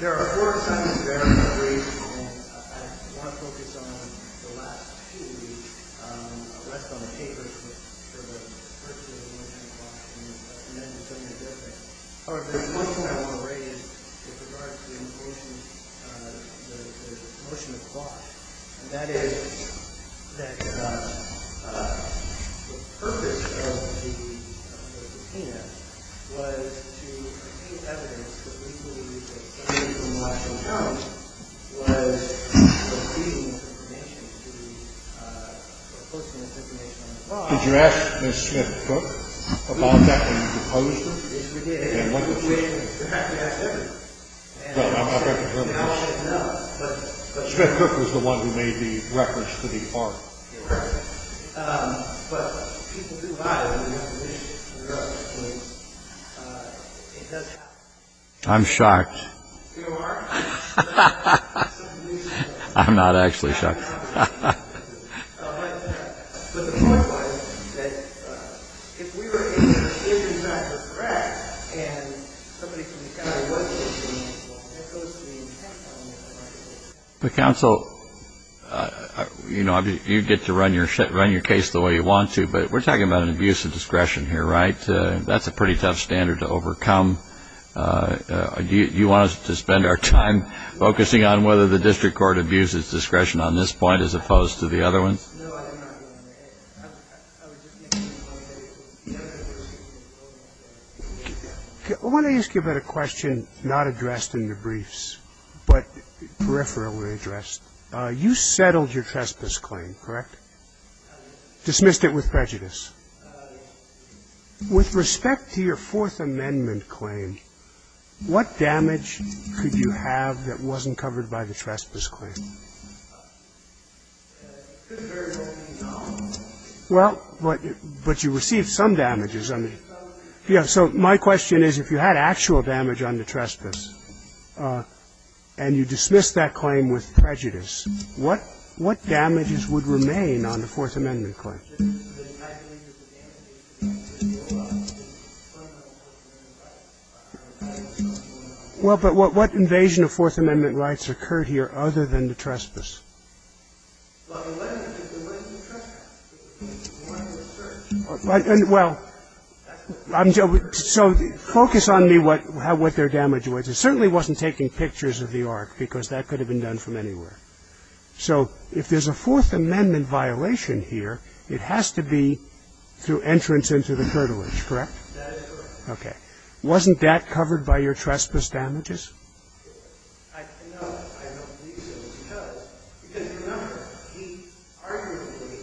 There are four assignments that I want to raise, and I want to focus on the last two. The last one was papers, but for the first two I want to address Washington and the second one is something different. There's one thing I want to raise with regard to the motion of the clock. And that is that the purpose of the subpoena was to contain evidence that we believe that came from Washington County was misleading information to be posting this information on the clock. Did you ask Ms. Smith-Cook about that when you proposed it? Yes, we did. You have to ask everyone. Smith-Cook was the one who made the reference to the arm. I'm shocked. You are? I'm not actually shocked. But the point was that if we were able to identify the threat and somebody from the County was able to do that, that goes to the intent of making the right decision. You get to run your case the way you want to, but we're talking about an abuse of discretion here, right? That's a pretty tough standard to overcome. Do you want us to spend our time focusing on whether the district court abuses discretion on this point as opposed to the other ones? I want to ask you about a question not addressed in the briefs, but peripherally addressed. You settled your trespass claim, correct? With respect to your Fourth Amendment claim, what damage could you have that wasn't covered by the trespass claim? Well, but you received some damages. So my question is if you had actual damage on the trespass and you dismissed that claim with prejudice, what damages would remain on the Fourth Amendment claim? Well, but what invasion of Fourth Amendment rights occurred here other than the trespass? Well, so focus on me what their damage was. It certainly wasn't taking pictures of the ark because that could have been done from anywhere. So if there's a Fourth Amendment violation here, it has to be through entrance into the curtilage, correct? Okay. Wasn't that covered by your trespass damages? No, I don't believe so. Because remember, he arguably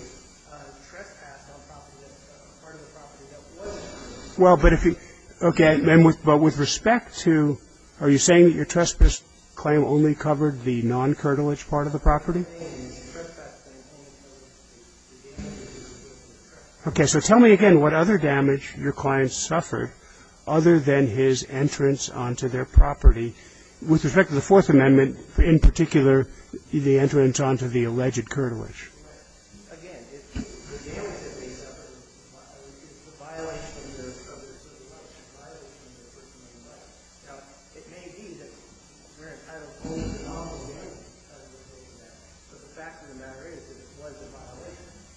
trespassed on a part of the property that wasn't covered. Well, but if you – okay. But with respect to – are you saying that your trespass claim only covered the non-curtilage part of the property? Okay. So tell me again what other damage your client suffered other than his entrance onto their property, with respect to the Fourth Amendment, in particular, the entrance onto the alleged curtilage?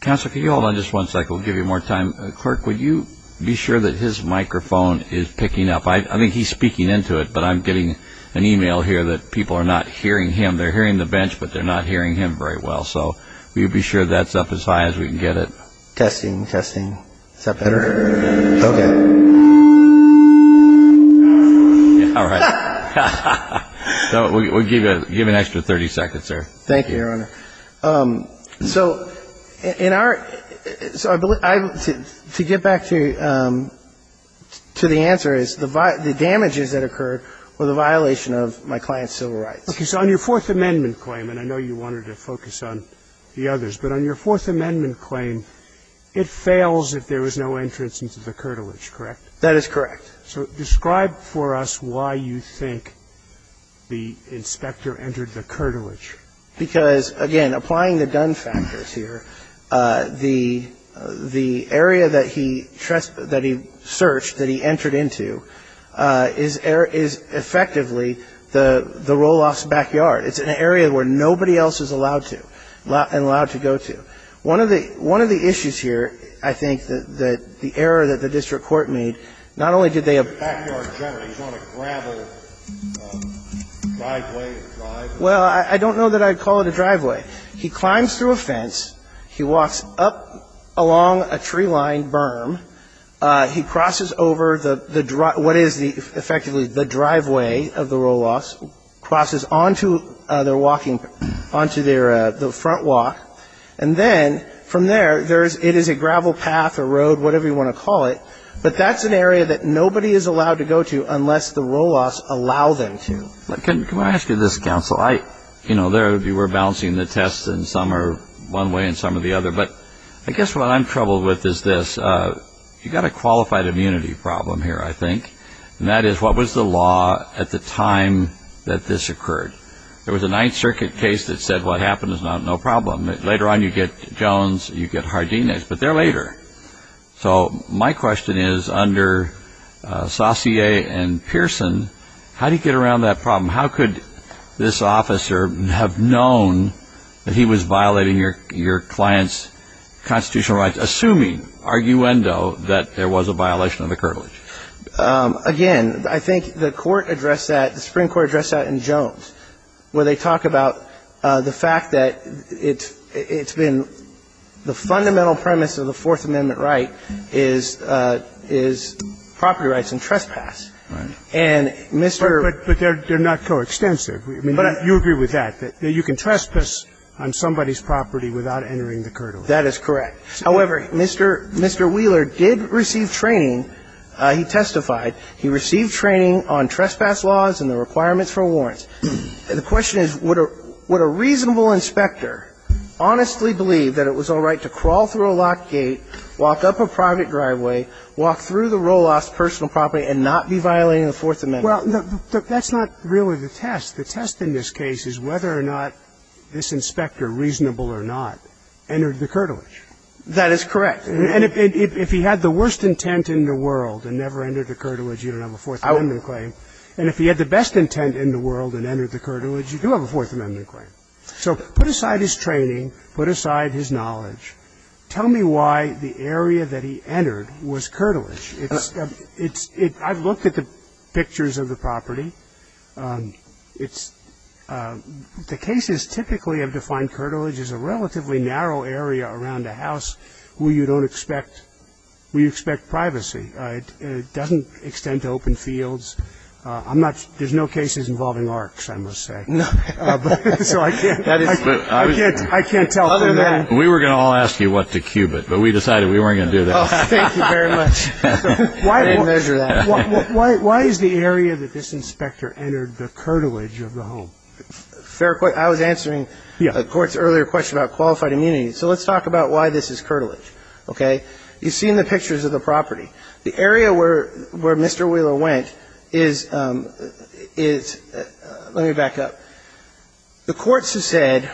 Counsel, can you hold on just one second? We'll give you more time. Clerk, would you be sure that his microphone is picking up? I think he's speaking into it, but I'm getting an e-mail here that people are not hearing him. They're hearing the bench, but they're not hearing him very well. So will you be sure that's up as high as we can get it? Testing, testing. Is that better? Okay. All right. We'll give you an extra 30 seconds there. Thank you, Your Honor. So in our – to get back to the answer is the damages that occurred were the violation of my client's civil rights. Okay. So on your Fourth Amendment claim, and I know you wanted to focus on the others, but on your Fourth Amendment claim, it fails if there was no entrance into the curtilage, correct? That is correct. So describe for us why you think the inspector entered the curtilage. Because, again, applying the Dunn factors here, the area that he searched, that he entered into, is effectively the Roloff's backyard. It's an area where nobody else is allowed to and allowed to go to. One of the issues here, I think, that the error that the district court made, not only did they have – Backyard generally. He's on a gravel driveway or drive. Well, I don't know that I'd call it a driveway. He climbs through a fence. He walks up along a tree-lined berm. He crosses over what is effectively the driveway of the Roloffs, crosses onto their walking – onto their front walk, and then from there, it is a gravel path or road, whatever you want to call it, but that's an area that nobody is allowed to go to unless the Roloffs allow them to. Can I ask you this, counsel? You know, you were balancing the tests, and some are one way and some are the other, but I guess what I'm troubled with is this. You've got a qualified immunity problem here, I think, and that is what was the law at the time that this occurred? There was a Ninth Circuit case that said what happened is now no problem. Later on, you get Jones, you get Hardina, but they're later. So my question is, under Saussure and Pearson, how do you get around that problem? How could this officer have known that he was violating your client's constitutional rights, assuming, arguendo, that there was a violation of the curvilege? Again, I think the Court addressed that, the Supreme Court addressed that in Jones, where they talk about the fact that it's been – the fundamental premise of the Fourth Amendment right is property rights and trespass. Right. But they're not coextensive. You agree with that, that you can trespass on somebody's property without entering the curvilege. That is correct. However, Mr. Wheeler did receive training. He testified. He received training on trespass laws and the requirements for warrants. The question is, would a reasonable inspector honestly believe that it was all right to crawl through a locked gate, walk up a private driveway, walk through the roll-off's personal property and not be violating the Fourth Amendment? Well, that's not really the test. The test in this case is whether or not this inspector, reasonable or not, entered the curvilege. That is correct. And if he had the worst intent in the world and never entered the curvilege, you don't have a Fourth Amendment claim. And if he had the best intent in the world and entered the curvilege, you do have a Fourth Amendment claim. So put aside his training, put aside his knowledge. Tell me why the area that he entered was curvilege. I've looked at the pictures of the property. It's the cases typically have defined curvilege as a relatively narrow area around a house where you don't expect, where you expect privacy. It doesn't extend to open fields. I'm not, there's no cases involving arcs, I must say. So I can't, I can't tell from that. We were going to all ask you what to cube it, but we decided we weren't going to do that. Oh, thank you very much. I didn't measure that. Why is the area that this inspector entered the curvilege of the home? Fair question. I was answering the Court's earlier question about qualified immunity. So let's talk about why this is curvilege. Okay. You've seen the pictures of the property. The area where Mr. Wheeler went is, let me back up. The courts have said,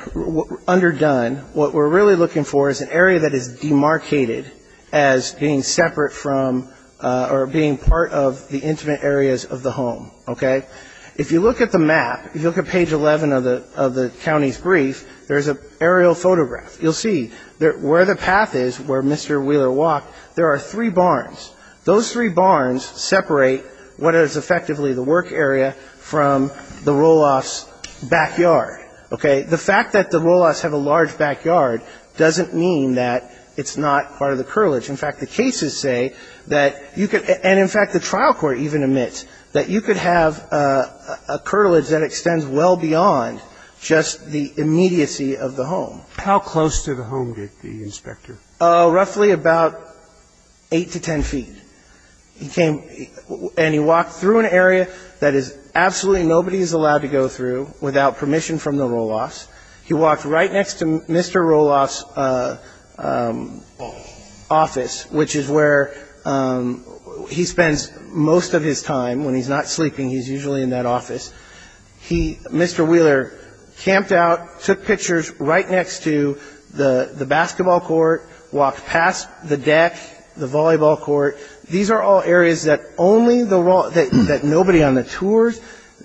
underdone, what we're really looking for is an area that is demarcated as being separate from or being part of the intimate areas of the home, okay? If you look at the map, if you look at page 11 of the county's brief, there's an aerial photograph. You'll see where the path is where Mr. Wheeler walked, there are three barns. Those three barns separate what is effectively the work area from the Roloff's backyard, okay? The fact that the Roloff's have a large backyard doesn't mean that it's not part of the curvilege. In fact, the cases say that you could, and in fact the trial court even admits, that you could have a curvilege that extends well beyond just the immediacy of the home. How close to the home did the inspector? Roughly about 8 to 10 feet. He came and he walked through an area that is absolutely nobody is allowed to go through without permission from the Roloff's. He walked right next to Mr. Roloff's office, which is where he spends most of his time. When he's not sleeping, he's usually in that office. He, Mr. Wheeler, camped out, took pictures right next to the basketball court, walked past the deck, the volleyball court. These are all areas that nobody on the tours,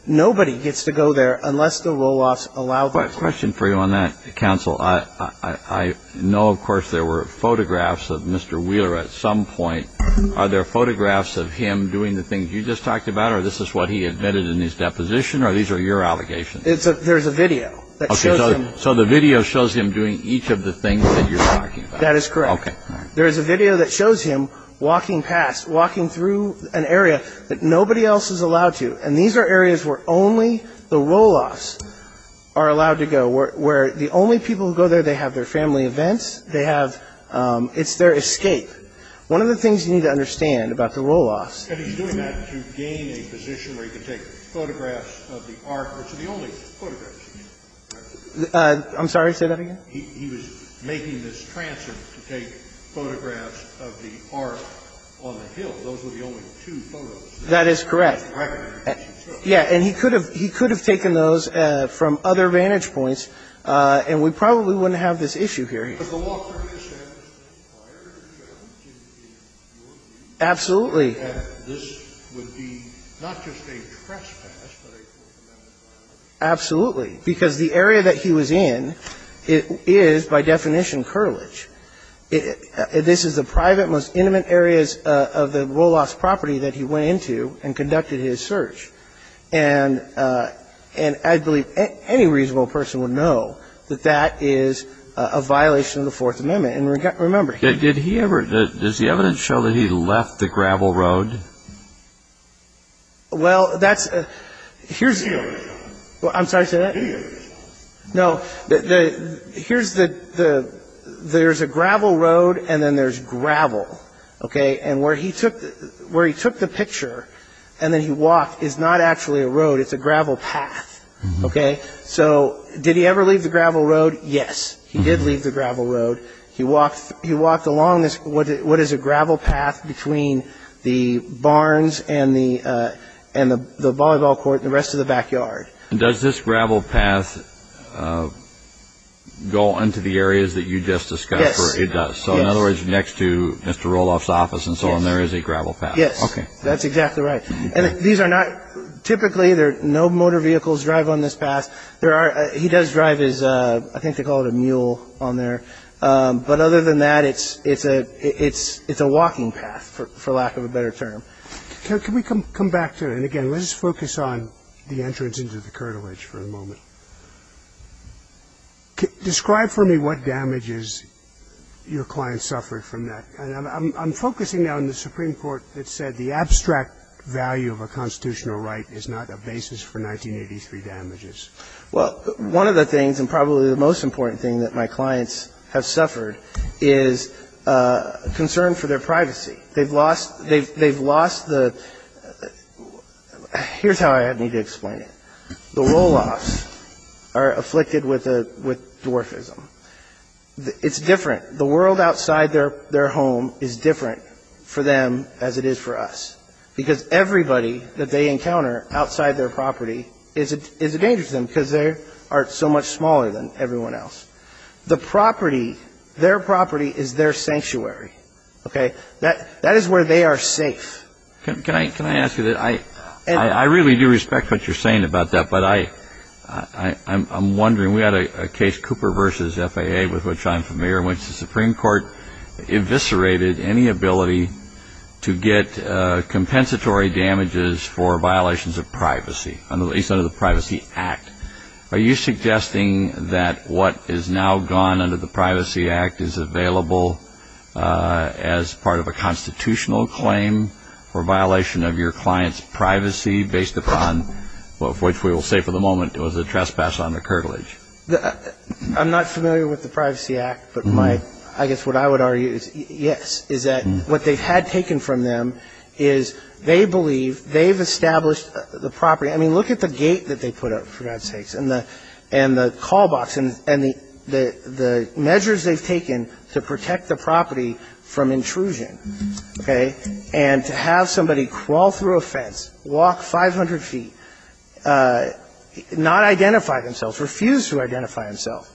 nobody gets to go there unless the Roloff's allow them to. Question for you on that, counsel. I know, of course, there were photographs of Mr. Wheeler at some point. Are there photographs of him doing the things you just talked about, or this is what he admitted in his deposition, or these are your allegations? There's a video that shows him. So the video shows him doing each of the things that you're talking about. That is correct. Okay. There is a video that shows him walking past, walking through an area that nobody else is allowed to, and these are areas where only the Roloff's are allowed to go, where the only people who go there, they have their family events. They have, it's their escape. One of the things you need to understand about the Roloff's. And he's doing that to gain a position where he can take photographs of the art, which are the only photographs. I'm sorry, say that again. He was making this transit to take photographs of the art on the hill. Those were the only two photos. That is correct. Yeah. And he could have taken those from other vantage points, and we probably wouldn't have this issue here. Absolutely. Absolutely. Because the area that he was in is, by definition, cartilage. This is the private, most intimate areas of the Roloff's property that he went into and conducted his search. And I believe any reasonable person would know that that is a violation of the Fourth Amendment. And remember, he didn't. Did he ever, does the evidence show that he left the gravel road? Well, that's, here's, I'm sorry, say that again. No, here's the, there's a gravel road and then there's gravel, okay? And where he took the picture and then he walked is not actually a road. It's a gravel path, okay? So did he ever leave the gravel road? Yes, he did leave the gravel road. He walked along what is a gravel path between the barns and the volleyball court and the rest of the backyard. And does this gravel path go into the areas that you just discussed? Yes. It does. So in other words, next to Mr. Roloff's office and so on, there is a gravel path. Yes. Okay. That's exactly right. And these are not, typically, no motor vehicles drive on this path. There are, he does drive his, I think they call it a mule on there. But other than that, it's a walking path, for lack of a better term. Can we come back to, and again, let's focus on the entrance into the curtilage for a moment. Describe for me what damages your clients suffered from that. I'm focusing now on the Supreme Court that said the abstract value of a constitutional right is not a basis for 1983 damages. Well, one of the things and probably the most important thing that my clients have suffered is concern for their privacy. They've lost the, here's how I need to explain it. The Roloffs are afflicted with dwarfism. It's different. The world outside their home is different for them as it is for us. Because everybody that they encounter outside their property is a danger to them because they are so much smaller than everyone else. The property, their property is their sanctuary. Okay? That is where they are safe. Can I ask you this? I really do respect what you're saying about that, but I'm wondering, we had a case, Cooper v. FAA, with which I'm familiar, in which the Supreme Court eviscerated any ability to get compensatory damages for violations of privacy, at least under the Privacy Act. Are you suggesting that what is now gone under the Privacy Act is available as part of a constitutional claim for violation of your client's privacy based upon what we will say for the moment was a trespass on the curtilage? I'm not familiar with the Privacy Act, but my, I guess what I would argue is yes, is that what they had taken from them is they believe they've established the property. I mean, look at the gate that they put up, for God's sakes, and the call box, and the measures they've taken to protect the property from intrusion. Okay? And to have somebody crawl through a fence, walk 500 feet, not identify themselves, refuse to identify himself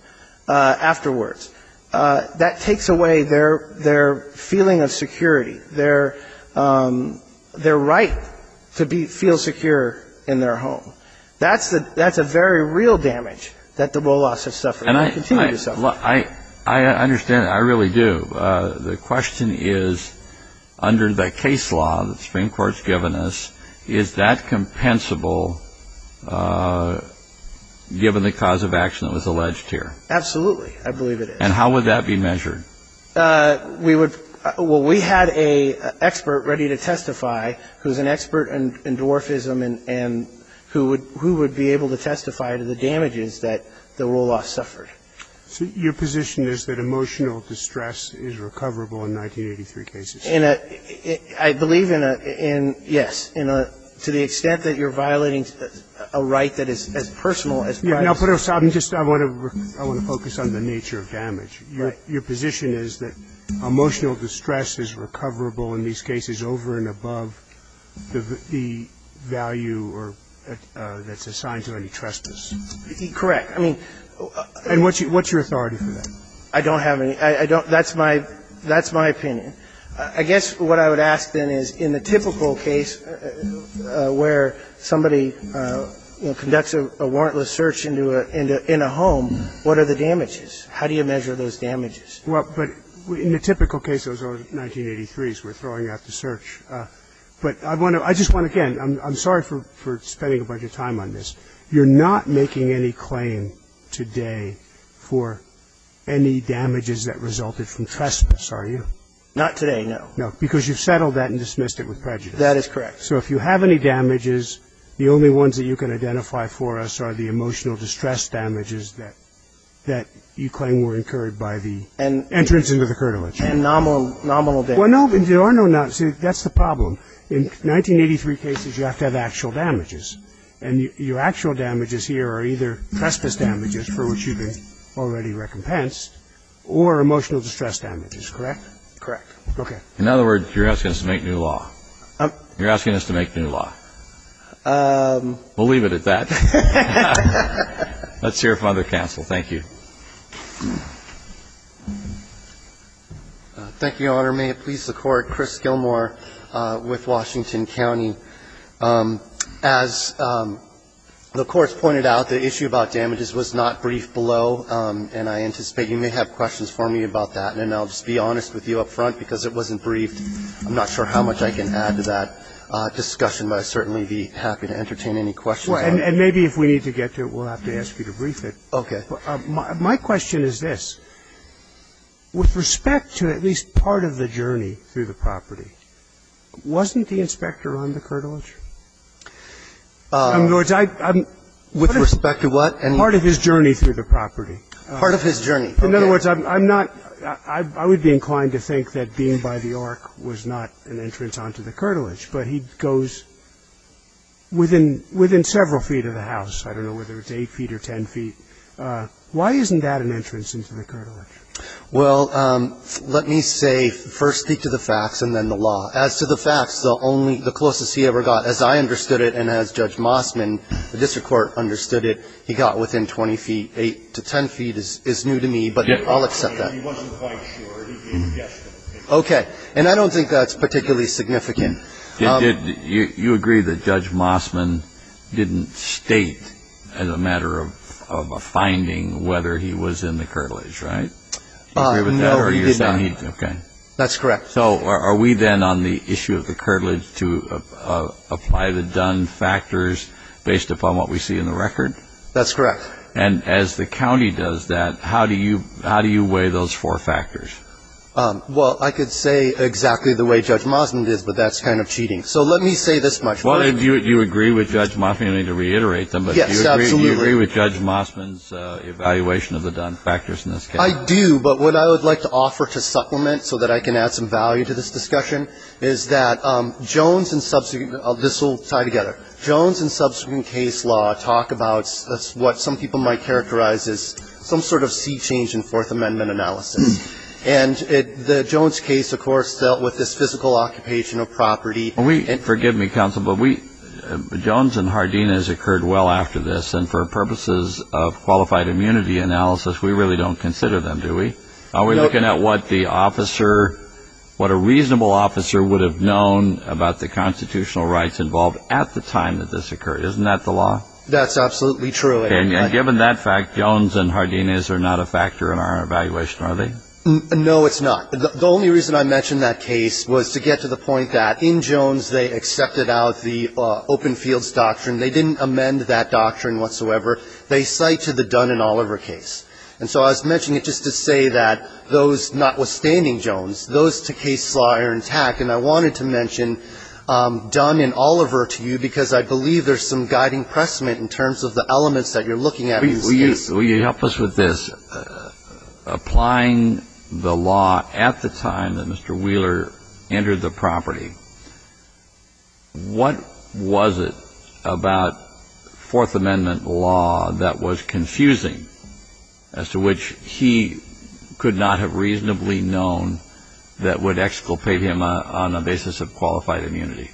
afterwards, that takes away their feeling of security, their right to feel secure in their home. That's a very real damage that the Wolos have suffered and continue to suffer. I understand that. I really do. The question is, under the case law that the Supreme Court's given us, is that compensable given the cause of action that was alleged here? Absolutely, I believe it is. And how would that be measured? We would, well, we had an expert ready to testify who's an expert in dwarfism and who would be able to testify to the damages that the Wolos suffered. So your position is that emotional distress is recoverable in 1983 cases? In a, I believe in a, yes, to the extent that you're violating a right that is as personal as privacy. Yeah. I want to focus on the nature of damage. Your position is that emotional distress is recoverable in these cases over and above the value that's assigned to any trespass? Correct. And what's your authority for that? I don't have any. That's my opinion. I guess what I would ask, then, is in the typical case where somebody, you know, conducts a warrantless search in a home, what are the damages? How do you measure those damages? Well, but in the typical case, those are 1983s. We're throwing out the search. But I just want to, again, I'm sorry for spending a bunch of time on this. You're not making any claim today for any damages that resulted from trespass, are you? Not today, no. No, because you've settled that and dismissed it with prejudice. That is correct. So if you have any damages, the only ones that you can identify for us are the emotional distress damages that you claim were incurred by the entrance into the curtilage. And nominal damages. Well, no, there are no nominal damages. That's the problem. In 1983 cases, you have to have actual damages. And your actual damages here are either trespass damages, for which you've been already recompensed, or emotional distress damages, correct? Correct. Okay. In other words, you're asking us to make new law. You're asking us to make new law. We'll leave it at that. Let's hear from other counsel. Thank you. Thank you, Your Honor. May it please the Court. Chris Gilmore with Washington County. As the Court's pointed out, the issue about damages was not briefed below, and I anticipate that you may have questions for me about that. And then I'll just be honest with you up front, because it wasn't briefed. I'm not sure how much I can add to that discussion, but I'd certainly be happy to entertain any questions. And maybe if we need to get to it, we'll have to ask you to brief it. Okay. My question is this. With respect to at least part of the journey through the property, wasn't the inspector on the curtilage? With respect to what? Part of his journey through the property. Part of his journey. In other words, I'm not – I would be inclined to think that being by the ark was not an entrance onto the curtilage, but he goes within several feet of the house. I don't know whether it's 8 feet or 10 feet. Why isn't that an entrance into the curtilage? Well, let me say, first speak to the facts and then the law. As to the facts, the closest he ever got, as I understood it and as Judge Mossman, the district court understood it, he got within 20 feet. 8 to 10 feet is new to me, but I'll accept that. He wasn't quite sure. He guessed it. Okay. And I don't think that's particularly significant. You agree that Judge Mossman didn't state as a matter of a finding whether he was in the curtilage, right? No, he did not. Okay. That's correct. So are we then on the issue of the curtilage to apply the Dunn factors based upon what we see in the record? That's correct. And as the county does that, how do you weigh those four factors? Well, I could say exactly the way Judge Mossman did, but that's kind of cheating. So let me say this much. Do you agree with Judge Mossman? I need to reiterate them. Yes, absolutely. I do, but what I would like to offer to supplement so that I can add some value to this discussion is that Jones and subsequent ‑‑ this will tie together. Jones and subsequent case law talk about what some people might characterize as some sort of sea change in Fourth Amendment analysis. And the Jones case, of course, dealt with this physical occupation of property. Forgive me, counsel, but Jones and Hardina has occurred well after this, and for purposes of qualified immunity analysis, we really don't consider them, do we? No. Are we looking at what the officer, what a reasonable officer would have known about the constitutional rights involved at the time that this occurred? Isn't that the law? That's absolutely true. And given that fact, Jones and Hardina are not a factor in our evaluation, are they? No, it's not. The only reason I mentioned that case was to get to the point that in Jones they accepted out the open fields doctrine. They didn't amend that doctrine whatsoever. They cite to the Dunn and Oliver case. And so I was mentioning it just to say that those, notwithstanding Jones, those two cases are intact, and I wanted to mention Dunn and Oliver to you because I believe there's some guiding precement in terms of the elements that you're looking at in this case. Will you help us with this? Applying the law at the time that Mr. Wheeler entered the property, what was it about Fourth Amendment law that was confusing, as to which he could not have reasonably known that would exculpate him on the basis of qualified immunity?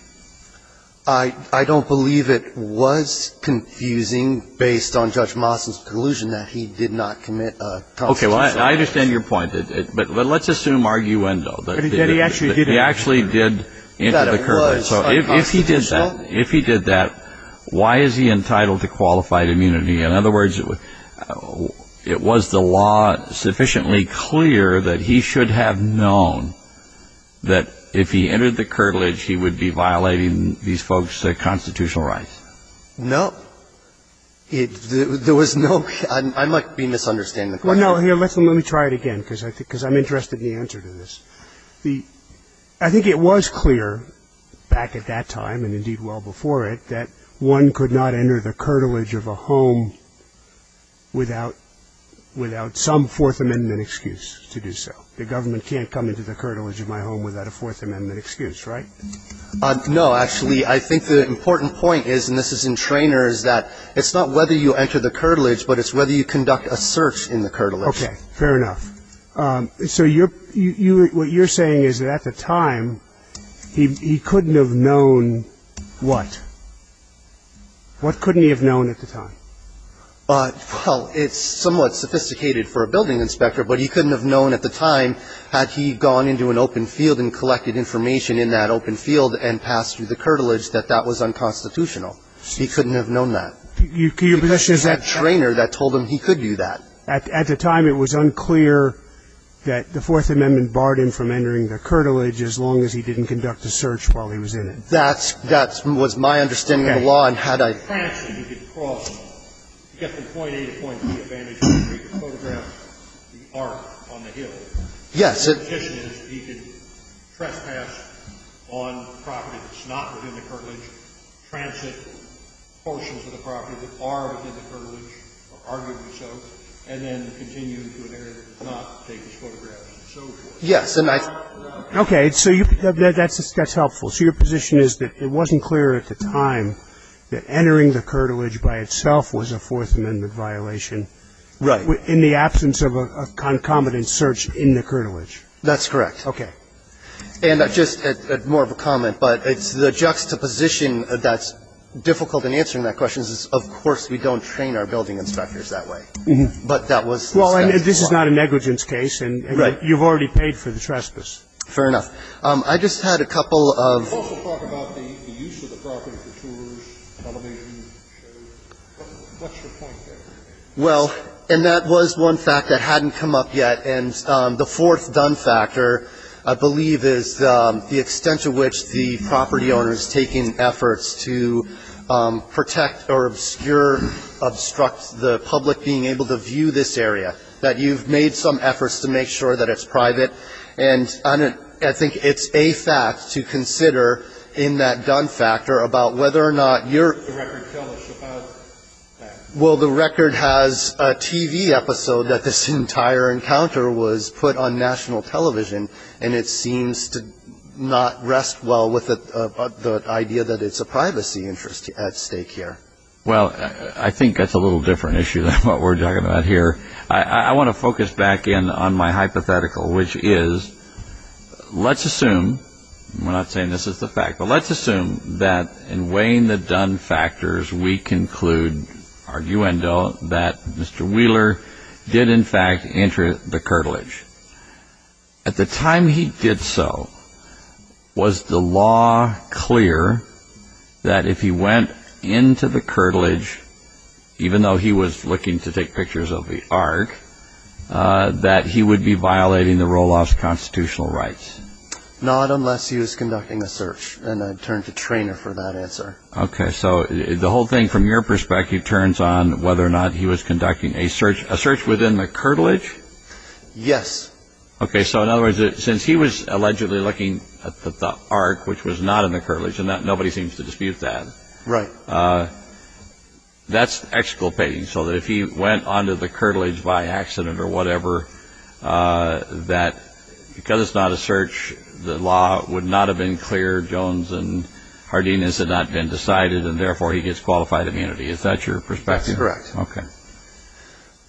I don't believe it was confusing based on Judge Moss's conclusion that he did not commit a constitutional offense. Okay. Well, I understand your point. But let's assume arguendo, that he actually did enter the curtilage. So if he did that, why is he entitled to qualified immunity? In other words, it was the law sufficiently clear that he should have known that if he entered the curtilage, he would be violating these folks' constitutional rights. No. There was no – I might be misunderstanding the question. Well, no, let me try it again because I'm interested in the answer to this. I think it was clear back at that time, and indeed well before it, that one could not enter the curtilage of a home without some Fourth Amendment excuse to do so. The government can't come into the curtilage of my home without a Fourth Amendment excuse, right? No. Actually, I think the important point is, and this is entrainer, is that it's not whether you enter the curtilage, but it's whether you conduct a search in the curtilage. Okay. Fair enough. So you're – what you're saying is that at the time, he couldn't have known what? What couldn't he have known at the time? Well, it's somewhat sophisticated for a building inspector, but he couldn't have known at the time had he gone into an open field and collected information in that open field and passed through the curtilage, that that was unconstitutional. He couldn't have known that. Your question is that – It was that trainer that told him he could do that. At the time, it was unclear that the Fourth Amendment barred him from entering the curtilage as long as he didn't conduct a search while he was in it. That's – that was my understanding of the law, and had I – Yes. Yes. Yes, and I – Okay. So that's helpful. So your position is that it wasn't clear at the time that entering the curtilage by itself was a Fourth Amendment violation. Right. In the absence of a concomitant search in the curtilage. That's correct. Okay. And just more of a comment, but it's the juxtaposition that's difficult in answering that question is, of course, we don't train our building inspectors that way. But that was – Well, and this is not a negligence case, and you've already paid for the trespass. Fair enough. I just had a couple of – You also talk about the use of the property for tours, television shows. What's your point there? Well, and that was one fact that hadn't come up yet. And the fourth done factor, I believe, is the extent to which the property owner is taking efforts to protect or obscure, obstruct the public being able to view this area, that you've made some efforts to make sure that it's private. And I think it's a fact to consider in that done factor about whether or not you're – The record tells us about that. Well, the record has a TV episode that this entire encounter was put on national television, and it seems to not rest well with the idea that it's a privacy interest at stake here. Well, I think that's a little different issue than what we're talking about here. I want to focus back in on my hypothetical, which is let's assume – and we're not saying this is the fact – but let's assume that in weighing the done factors, we conclude – arguendo – that Mr. Wheeler did, in fact, enter the curtilage. At the time he did so, was the law clear that if he went into the curtilage, even though he was looking to take pictures of the ARC, that he would be violating the roll-off's constitutional rights? Not unless he was conducting a search, and I'd turn to Treanor for that answer. Okay. So the whole thing, from your perspective, turns on whether or not he was conducting a search within the curtilage? Yes. Okay. So in other words, since he was allegedly looking at the ARC, which was not in the curtilage, and nobody seems to dispute that. Right. That's exculpating, so that if he went onto the curtilage by accident or whatever, that because it's not a search, the law would not have been clear, Jones and Hardinas had not been decided, and therefore he gets qualified immunity. Is that your perspective? That's correct. Okay.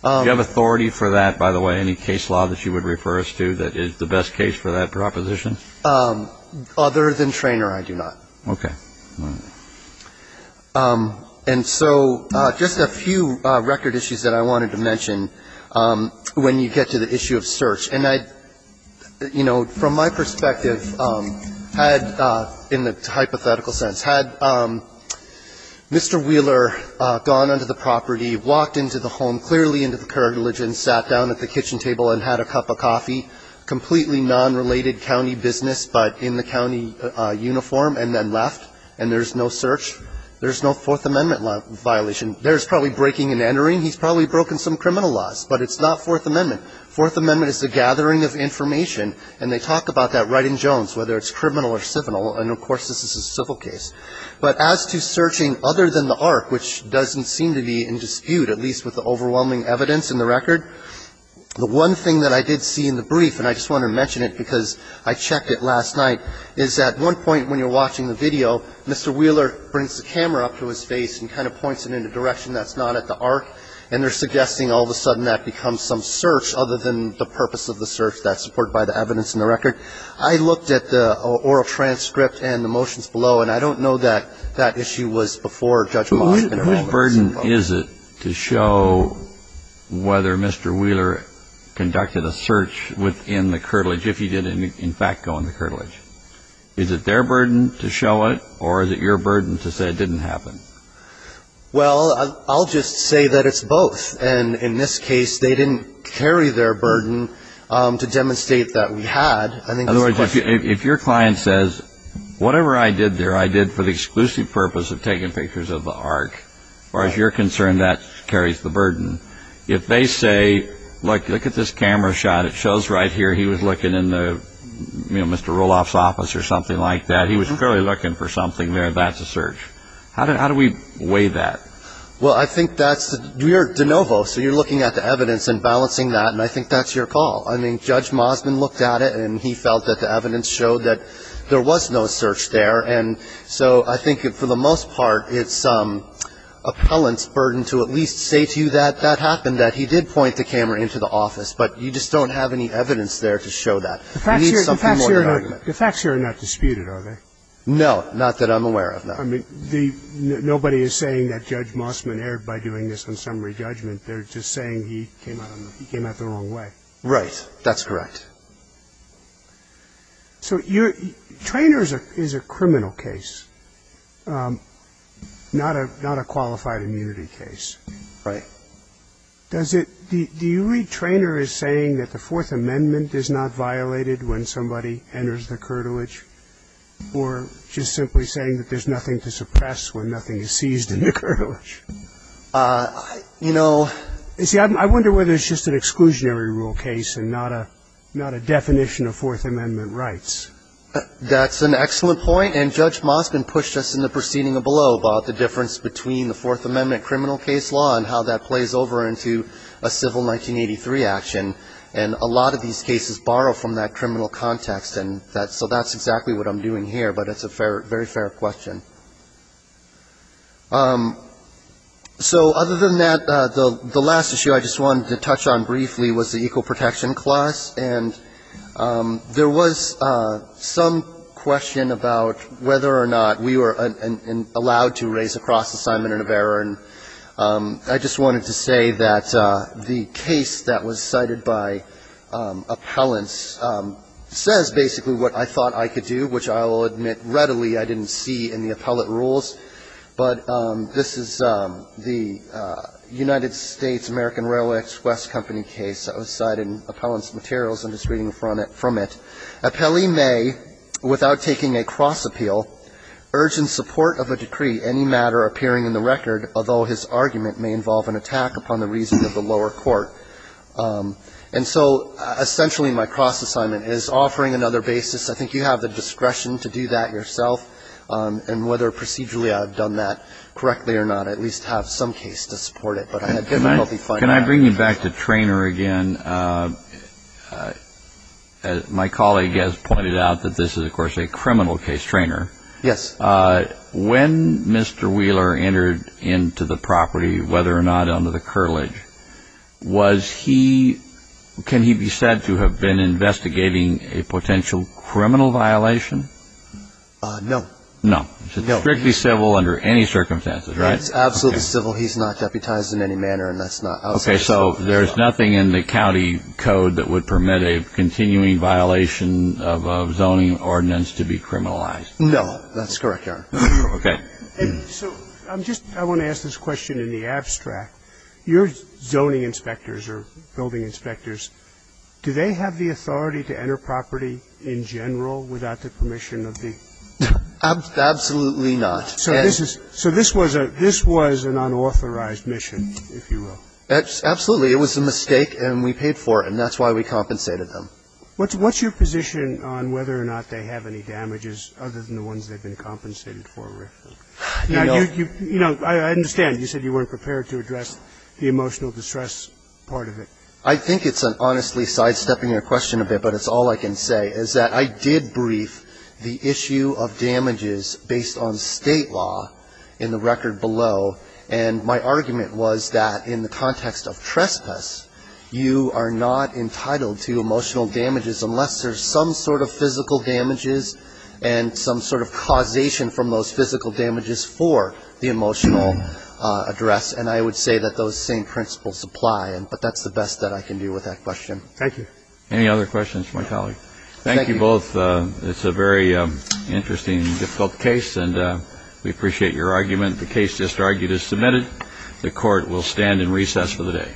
Do you have authority for that, by the way? Any case law that you would refer us to that is the best case for that proposition? Other than Treanor, I do not. Okay. All right. And so just a few record issues that I wanted to mention when you get to the issue of search. And I, you know, from my perspective, had, in the hypothetical sense, had Mr. Wheeler gone onto the property, walked into the home, clearly into the curtilage and sat down at the kitchen table and had a cup of coffee, completely nonrelated county business, but in the county uniform, and then left. And there's no search. There's no Fourth Amendment violation. There's probably breaking and entering. He's probably broken some criminal laws, but it's not Fourth Amendment. Fourth Amendment is a gathering of information, and they talk about that right in Jones, whether it's criminal or civil. And, of course, this is a civil case. But as to searching other than the ARC, which doesn't seem to be in dispute, at least with the overwhelming evidence in the record, the one thing that I did see in the brief, and I just wanted to mention it because I checked it last night, is at one point when you're watching the video, Mr. Wheeler brings the camera up to his face and kind of points it in a direction that's not at the ARC, and they're suggesting all of a sudden that becomes some search other than the purpose of the search that's supported by the evidence in the record. I looked at the oral transcript and the motions below, and I don't know that that issue was before Judge Moss. So I'm just wondering, who's burden is it to show whether Mr. Wheeler conducted a search within the curtilage if he did in fact go in the curtilage? Is it their burden to show it, or is it your burden to say it didn't happen? Well, I'll just say that it's both. And in this case, they didn't carry their burden to demonstrate that we had. I think it's the question. In other words, if your client says, whatever I did there, I did for the exclusive purpose of taking pictures of the ARC. As far as you're concerned, that carries the burden. If they say, look, look at this camera shot. It shows right here he was looking in Mr. Roloff's office or something like that. He was clearly looking for something there. That's a search. How do we weigh that? Well, I think that's the de novo. So you're looking at the evidence and balancing that, and I think that's your call. I mean, Judge Mossman looked at it, and he felt that the evidence showed that there was no search there. And so I think for the most part, it's appellant's burden to at least say to you that that happened, that he did point the camera into the office, but you just don't have any evidence there to show that. You need something more than argument. The facts here are not disputed, are they? No, not that I'm aware of, no. I mean, nobody is saying that Judge Mossman erred by doing this on summary judgment. They're just saying he came out the wrong way. That's correct. So Traynor is a criminal case, not a qualified immunity case. Right. Do you read Traynor as saying that the Fourth Amendment is not violated when somebody enters the curtilage, or just simply saying that there's nothing to suppress when nothing is seized in the curtilage? You know. You see, I wonder whether it's just an exclusionary rule case and not a definition of Fourth Amendment rights. That's an excellent point, and Judge Mossman pushed us in the proceeding below about the difference between the Fourth Amendment criminal case law and how that plays over into a civil 1983 action. And a lot of these cases borrow from that criminal context, and so that's exactly what I'm doing here, but it's a very fair question. So other than that, the last issue I just wanted to touch on briefly was the equal protection clause, and there was some question about whether or not we were allowed to raise a cross-assignment of error, and I just wanted to say that the case that was cited by appellants says basically what I thought I could do, which I will admit readily I didn't see in the appellate rules, but this is the United States American Railway Express Company case that was cited in appellant's materials. I'm just reading from it. Appellee may, without taking a cross-appeal, urge in support of a decree any matter appearing in the record, although his argument may involve an attack upon the reason of the lower court. And so essentially my cross-assignment is offering another basis. I think you have the discretion to do that yourself, and whether procedurally I've done that correctly or not, I at least have some case to support it, but I had difficulty finding that. Can I bring you back to Treynor again? My colleague has pointed out that this is, of course, a criminal case, Treynor. Yes. When Mr. Wheeler entered into the property, whether or not under the curlage, was he, can he be said to have been investigating a potential criminal violation? No. No. No. It's strictly civil under any circumstances, right? It's absolutely civil. He's not deputized in any manner, and that's not outside the scope of the law. Okay. So there's nothing in the county code that would permit a continuing violation of a zoning ordinance to be criminalized? No. That's correct, Your Honor. Okay. So I'm just, I want to ask this question in the abstract. Your zoning inspectors or building inspectors, do they have the authority to enter property in general without the permission of the? Absolutely not. So this was an unauthorized mission, if you will? Absolutely. It was a mistake, and we paid for it, and that's why we compensated them. What's your position on whether or not they have any damages other than the ones they've been compensated for? Now, you know, I understand. You said you weren't prepared to address the emotional distress part of it. I think it's an honestly side-stepping your question a bit, but it's all I can say, is that I did brief the issue of damages based on State law in the record below, and my argument was that in the context of trespass, you are not entitled to emotional damages unless there's some sort of physical damages and some sort of causation from those physical damages for the emotional address, and I would say that those same principles apply, but that's the best that I can do with that question. Thank you. Any other questions for my colleague? Thank you. Thank you both. It's a very interesting and difficult case, and we appreciate your argument. The case just argued is submitted. The Court will stand in recess for the day. Thank you. Thank you.